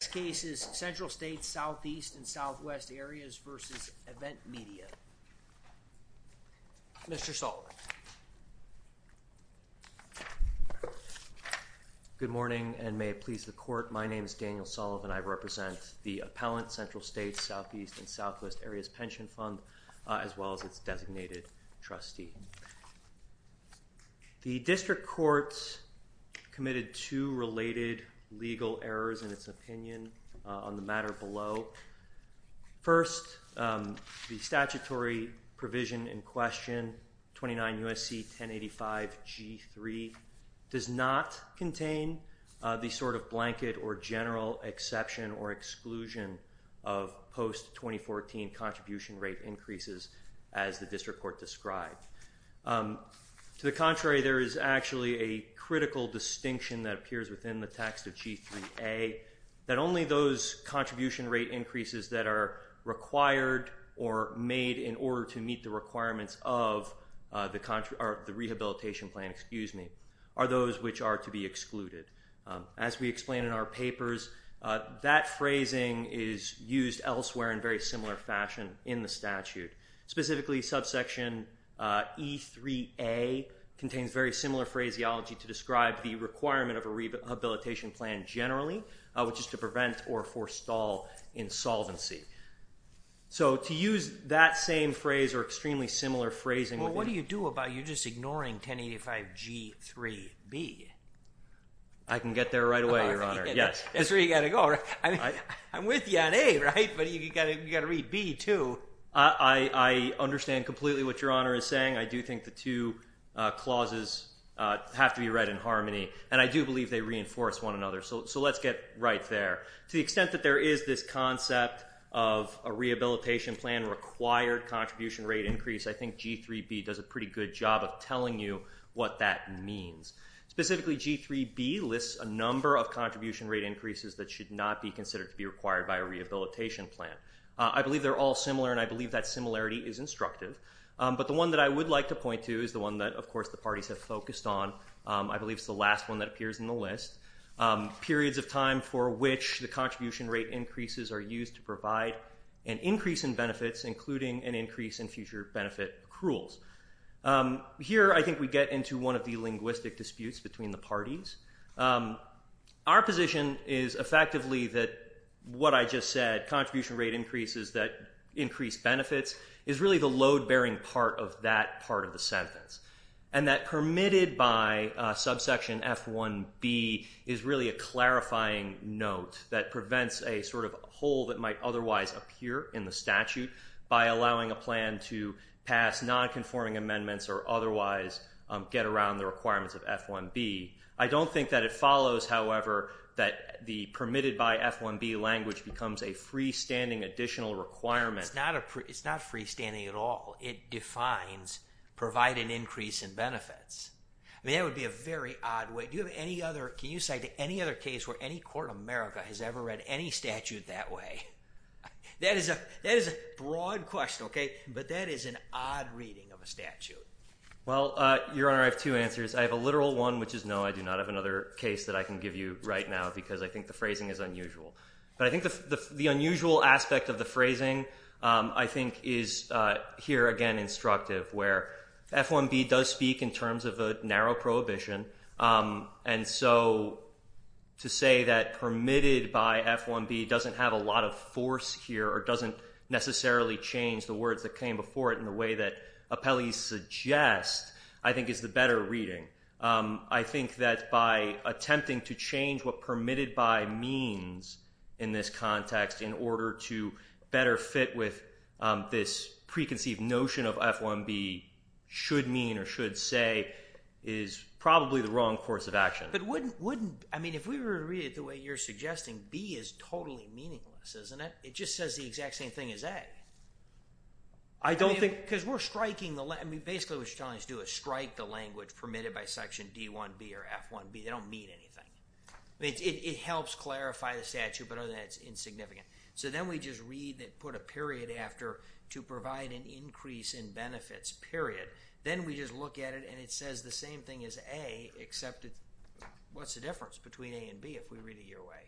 This case is Central States Southeast and Southwest Areas v. Event Media. Mr. Sullivan. Good morning, and may it please the Court, my name is Daniel Sullivan. I represent the Appellant Central States Southeast and Southwest Areas Pension Fund, as well as its designated trustee. The District Court committed two related legal errors in its opinion on the matter below. First, the statutory provision in question, 29 U.S.C. 1085 G3, does not contain the sort of blanket or general exception or exclusion of post-2014 contribution rate increases as the District Court described. To the contrary, there is actually a critical distinction that appears within the text of G3A, that only those contribution rate increases that are required or made in order to meet the requirements of the rehabilitation plan are those which are to be excluded. As we explain in our papers, that phrasing is used elsewhere in very similar fashion in the statute. Specifically, subsection E3A contains very similar phraseology to describe the requirement of a rehabilitation plan generally, which is to prevent or forestall insolvency. So, to use that same phrase or extremely similar phrasing... Well, what do you do about it? You're just ignoring 1085 G3B. I can get there right away, Your Honor. Yes. That's where you've got to go, right? I'm with you on A, right? But you've got to read B, too. I understand completely what Your Honor is saying. I do think the two clauses have to be read in harmony. And I do believe they reinforce one another, so let's get right there. To the extent that there is this concept of a rehabilitation plan required contribution rate increase, I think G3B does a pretty good job of telling you what that means. Specifically, G3B lists a number of contribution rate increases that should not be considered to be required by a rehabilitation plan. I believe they're all similar, and I believe that similarity is instructive. But the one that I would like to point to is the one that, of course, the parties have focused on. I believe it's the last one that appears in the list. Periods of time for which the contribution rate increases are used to provide an increase in benefits, including an increase in future benefit accruals. Here, I think we get into one of the linguistic disputes between the parties. Our position is effectively that what I just said, contribution rate increases that increase benefits, is really the load-bearing part of that part of the sentence. And that permitted by subsection F1B is really a clarifying note that prevents a sort of hole that might otherwise appear in the statute by allowing a plan to pass nonconforming amendments or otherwise get around the requirements of F1B. I don't think that it follows, however, that the permitted by F1B language becomes a freestanding additional requirement. It's not freestanding at all. It defines provide an increase in benefits. I mean, that would be a very odd way. Do you have any other – can you cite any other case where any court in America has ever read any statute that way? That is a broad question, okay? But that is an odd reading of a statute. Well, Your Honor, I have two answers. I have a literal one, which is no, I do not have another case that I can give you right now because I think the phrasing is unusual. But I think the unusual aspect of the phrasing, I think, is here again instructive where F1B does speak in terms of a narrow prohibition. And so to say that permitted by F1B doesn't have a lot of force here or doesn't necessarily change the words that came before it in the way that appellees suggest I think is the better reading. I think that by attempting to change what permitted by means in this context in order to better fit with this preconceived notion of F1B should mean or should say is probably the wrong course of action. But wouldn't – I mean, if we were to read it the way you're suggesting, B is totally meaningless, isn't it? It just says the exact same thing as A. I don't think – Because we're striking the – I mean, basically what you're telling us to do is strike the language permitted by Section D1B or F1B. They don't mean anything. It helps clarify the statute, but other than that, it's insignificant. So then we just read that put a period after to provide an increase in benefits, period. Then we just look at it, and it says the same thing as A, except it – what's the difference between A and B if we read it your way?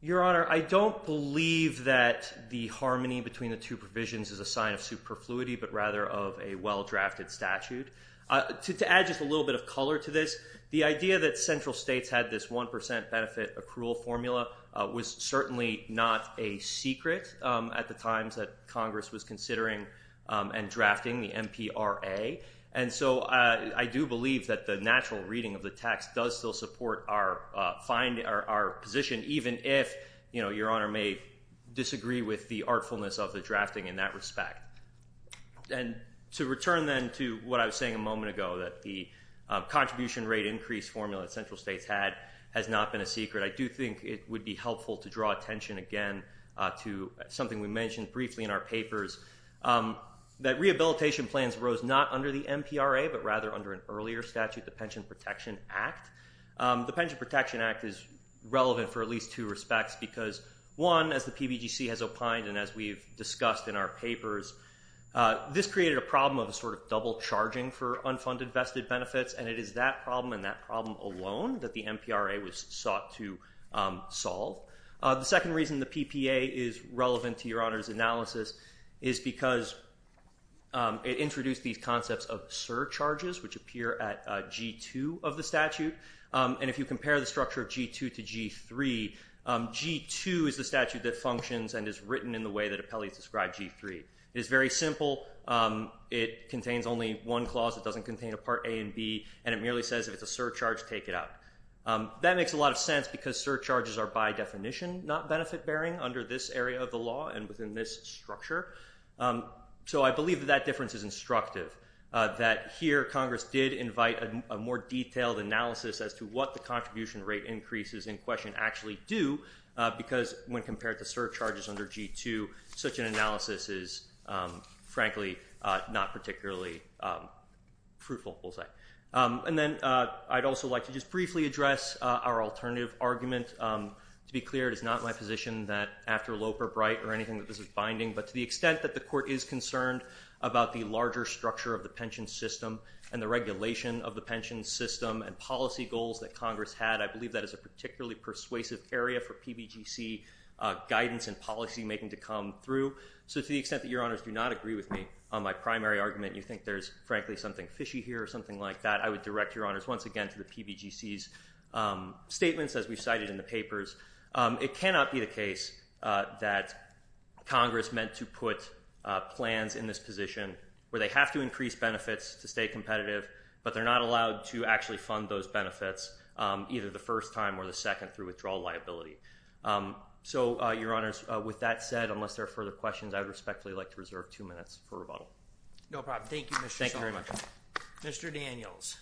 Your Honor, I don't believe that the harmony between the two provisions is a sign of superfluity but rather of a well-drafted statute. To add just a little bit of color to this, the idea that central states had this 1 percent benefit accrual formula was certainly not a secret at the times that Congress was considering and drafting the MPRA. And so I do believe that the natural reading of the text does still support our position even if your Honor may disagree with the artfulness of the drafting in that respect. And to return then to what I was saying a moment ago, that the contribution rate increase formula that central states had has not been a secret. I do think it would be helpful to draw attention again to something we mentioned briefly in our papers, that rehabilitation plans rose not under the MPRA but rather under an earlier statute, the Pension Protection Act. The Pension Protection Act is relevant for at least two respects because, one, as the PBGC has opined and as we've discussed in our papers, this created a problem of a sort of double charging for unfunded vested benefits. And it is that problem and that problem alone that the MPRA was sought to solve. The second reason the PPA is relevant to your Honor's analysis is because it introduced these concepts of surcharges, which appear at G-2 of the statute. And if you compare the structure of G-2 to G-3, G-2 is the statute that functions and is written in the way that appellees describe G-3. It is very simple. It contains only one clause. It doesn't contain a Part A and B, and it merely says if it's a surcharge, take it out. That makes a lot of sense because surcharges are by definition not benefit-bearing under this area of the law and within this structure. So I believe that that difference is instructive, that here Congress did invite a more detailed analysis as to what the contribution rate increases in question actually do because when compared to surcharges under G-2, such an analysis is frankly not particularly fruitful, we'll say. And then I'd also like to just briefly address our alternative argument. To be clear, it is not my position that after Loeb or Bright or anything that this is binding, but to the extent that the Court is concerned about the larger structure of the pension system and the regulation of the pension system and policy goals that Congress had, I believe that is a particularly persuasive area for PBGC guidance and policymaking to come through. So to the extent that Your Honors do not agree with me on my primary argument, you think there's frankly something fishy here or something like that, I would direct Your Honors once again to the PBGC's statements. As we cited in the papers, it cannot be the case that Congress meant to put plans in this position where they have to increase benefits to stay competitive, but they're not allowed to actually fund those benefits either the first time or the second through withdrawal liability. So, Your Honors, with that said, unless there are further questions, I would respectfully like to reserve two minutes for rebuttal. No problem. Thank you, Mr. Schultz. Thank you very much. Mr. Daniels.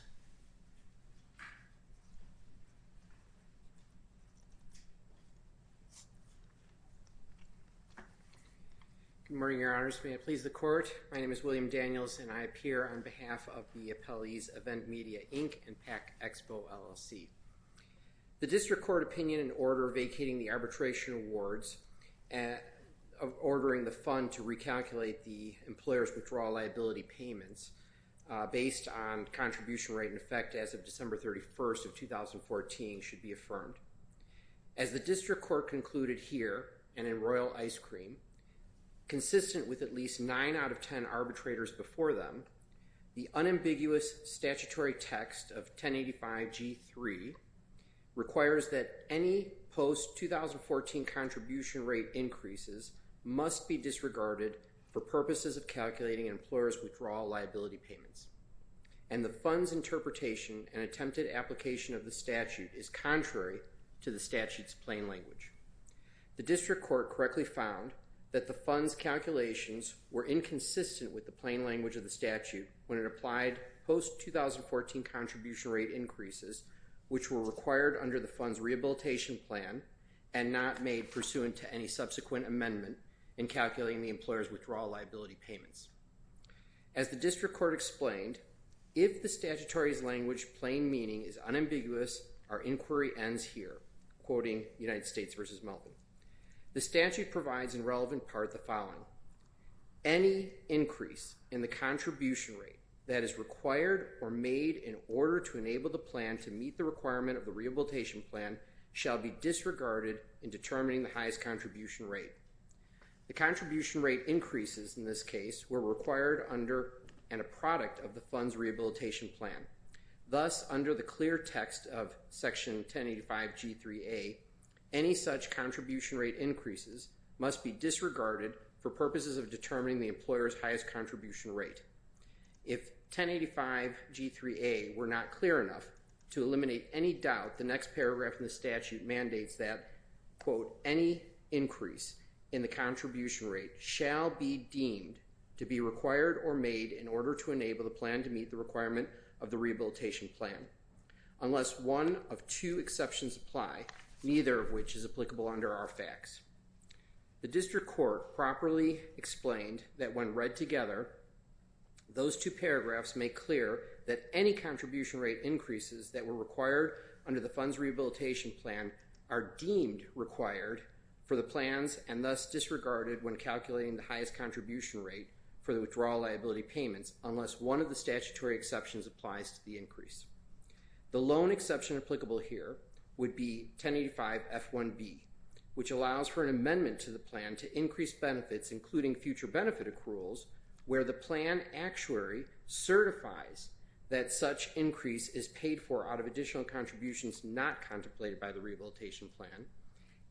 Good morning, Your Honors. May it please the Court, my name is William Daniels and I appear on behalf of the appellees Event Media Inc. and PAC Expo LLC. The district court opinion in order vacating the arbitration awards, ordering the fund to recalculate the employer's withdrawal liability payments based on contribution rate in effect as of December 31st of 2014 should be affirmed. As the district court concluded here and in Royal Ice Cream, consistent with at least nine out of ten arbitrators before them, the unambiguous statutory text of 1085G3 requires that any post-2014 contribution rate increases must be disregarded for purposes of calculating employers' withdrawal liability payments. And the fund's interpretation and attempted application of the statute is contrary to the statute's plain language. The district court correctly found that the fund's calculations were inconsistent with the plain language of the statute when it applied post-2014 contribution rate increases, which were required under the fund's rehabilitation plan and not made pursuant to any subsequent amendment in calculating the employer's withdrawal liability payments. As the district court explained, if the statutory's language plain meaning is unambiguous, our inquiry ends here, quoting United States v. Melvin. The statute provides in relevant part the following. Any increase in the contribution rate that is required or made in order to enable the plan to meet the requirement of the rehabilitation plan shall be disregarded in determining the highest contribution rate. The contribution rate increases in this case were required under and a product of the fund's rehabilitation plan. Thus, under the clear text of Section 1085G3A, any such contribution rate increases must be disregarded for purposes of determining the employer's highest contribution rate. If 1085G3A were not clear enough to eliminate any doubt, the next paragraph in the statute mandates that, quote, any increase in the contribution rate shall be deemed to be required or made in order to enable the plan to meet the requirement of the rehabilitation plan. Unless one of two exceptions apply, neither of which is applicable under our facts. The district court properly explained that when read together, those two paragraphs make clear that any contribution rate increases that were required under the fund's rehabilitation plan are deemed required for the plans and thus disregarded when calculating the highest contribution rate for the withdrawal liability payments unless one of the statutory exceptions applies to the increase. The loan exception applicable here would be 1085F1B, which allows for an amendment to the plan to increase benefits, including future benefit accruals, where the plan actuary certifies that such increase is paid for out of additional contributions not contemplated by the rehabilitation plan.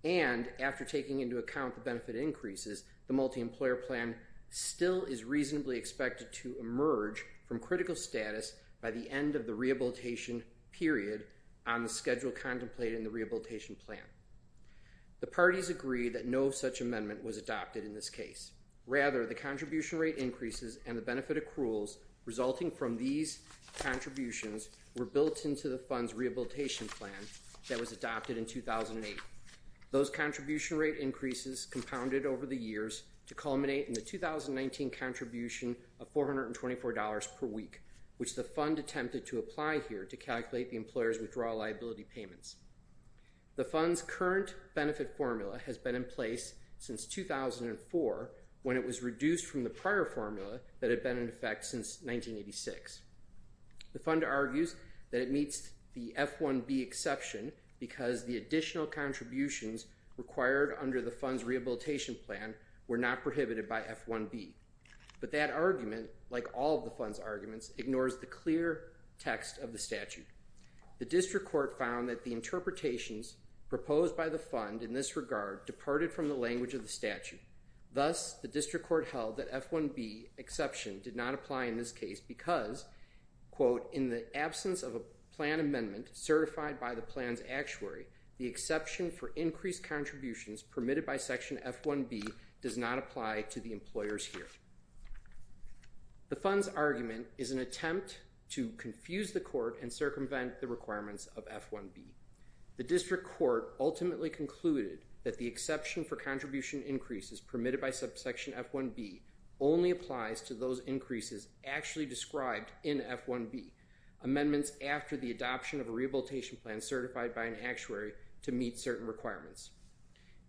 And after taking into account the benefit increases, the multi-employer plan still is reasonably expected to emerge from critical status by the end of the rehabilitation period on the schedule contemplated in the rehabilitation plan. The parties agree that no such amendment was adopted in this case. Rather, the contribution rate increases and the benefit accruals resulting from these contributions were built into the fund's rehabilitation plan that was adopted in 2008. Those contribution rate increases compounded over the years to culminate in the 2019 contribution of $424 per week, which the fund attempted to apply here to calculate the employer's withdrawal liability payments. The fund's current benefit formula has been in place since 2004 when it was reduced from the prior formula that had been in effect since 1986. The fund argues that it meets the F1B exception because the additional contributions required under the fund's rehabilitation plan were not prohibited by F1B. But that argument, like all of the fund's arguments, ignores the clear text of the statute. The district court found that the interpretations proposed by the fund in this regard departed from the language of the statute. Thus, the district court held that F1B exception did not apply in this case because, quote, in the absence of a plan amendment certified by the plan's actuary, the exception for increased contributions permitted by Section F1B does not apply to the employers here. The fund's argument is an attempt to confuse the court and circumvent the requirements of F1B. The district court ultimately concluded that the exception for contribution increases permitted by Subsection F1B only applies to those increases actually described in F1B, amendments after the adoption of a rehabilitation plan certified by an actuary to meet certain requirements.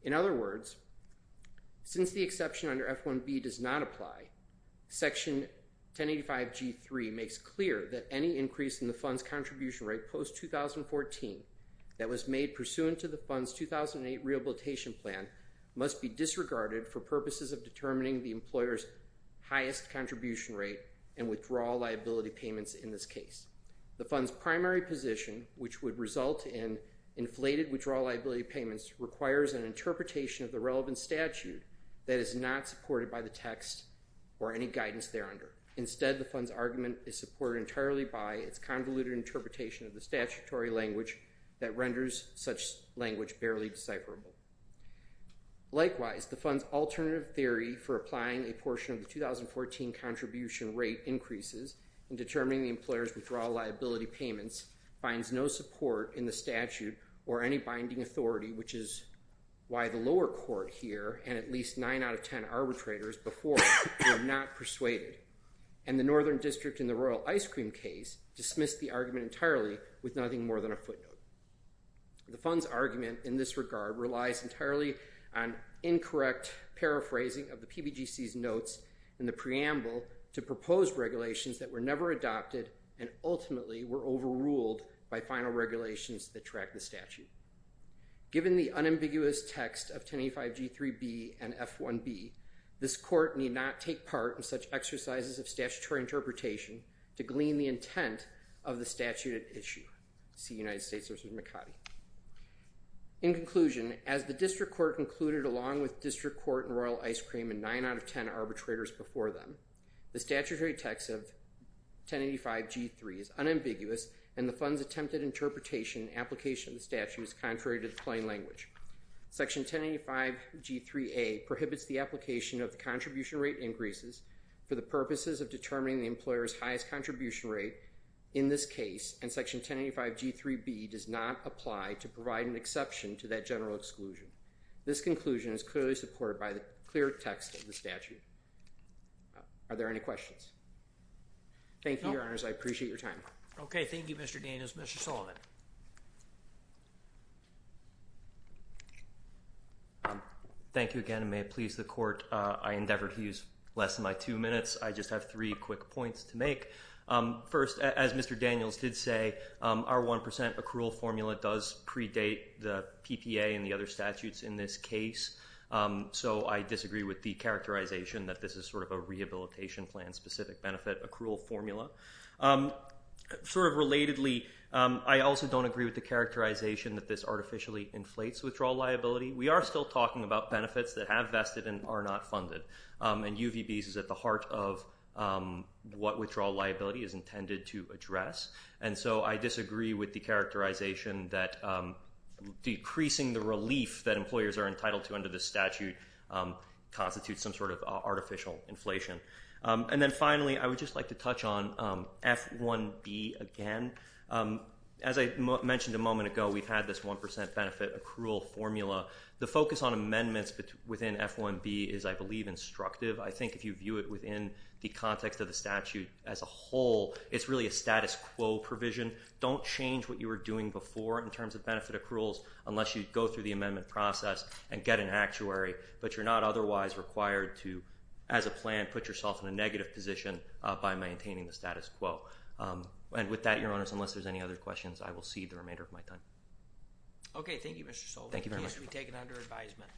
In other words, since the exception under F1B does not apply, Section 1085G3 makes clear that any increase in the fund's contribution rate post-2014 that was made pursuant to the fund's 2008 rehabilitation plan must be disregarded for purposes of determining the employer's highest contribution rate and withdrawal liability payments in this case. The fund's primary position, which would result in inflated withdrawal liability payments, requires an interpretation of the relevant statute that is not supported by the text or any guidance thereunder. Instead, the fund's argument is supported entirely by its convoluted interpretation of the statutory language that renders such language barely decipherable. Likewise, the fund's alternative theory for applying a portion of the 2014 contribution rate increases in determining the employer's withdrawal liability payments finds no support in the statute or any binding authority, which is why the lower court here and at least 9 out of 10 arbitrators before were not persuaded. And the Northern District in the Royal Ice Cream case dismissed the argument entirely with nothing more than a footnote. The fund's argument in this regard relies entirely on incorrect paraphrasing of the PBGC's notes in the preamble to proposed regulations that were never adopted and ultimately were overruled by final regulations that track the statute. Given the unambiguous text of 1085G3B and F1B, this court need not take part in such exercises of statutory interpretation to glean the intent of the statute at issue. In conclusion, as the District Court concluded along with District Court and Royal Ice Cream and 9 out of 10 arbitrators before them, the statutory text of 1085G3 is unambiguous and the fund's attempted interpretation and application of the statute is contrary to the plain language. Section 1085G3A prohibits the application of the contribution rate increases for the purposes of determining the employer's highest contribution rate in this case and Section 1085G3B does not apply to provide an exception to that general exclusion. This conclusion is clearly supported by the clear text of the statute. Are there any questions? Thank you, Your Honors. I appreciate your time. Okay. Thank you, Mr. Daniels. Mr. Sullivan. Thank you again and may it please the Court. I endeavor to use less than my two minutes. I just have three quick points to make. First, as Mr. Daniels did say, our 1% accrual formula does predate the PPA and the other statutes in this case, so I disagree with the characterization that this is sort of a rehabilitation plan specific benefit accrual formula. Sort of relatedly, I also don't agree with the characterization that this artificially inflates withdrawal liability. We are still talking about benefits that have vested and are not funded. And UVB is at the heart of what withdrawal liability is intended to address. And so I disagree with the characterization that decreasing the relief that employers are entitled to under this statute constitutes some sort of artificial inflation. And then finally, I would just like to touch on F-1B again. As I mentioned a moment ago, we've had this 1% benefit accrual formula. The focus on amendments within F-1B is, I believe, instructive. I think if you view it within the context of the statute as a whole, it's really a status quo provision. Don't change what you were doing before in terms of benefit accruals unless you go through the amendment process and get an actuary. But you're not otherwise required to, as a plan, put yourself in a negative position by maintaining the status quo. And with that, Your Honors, unless there's any other questions, I will cede the remainder of my time. Okay. Thank you, Mr. Soule. Thank you very much. The case will be taken under advisement.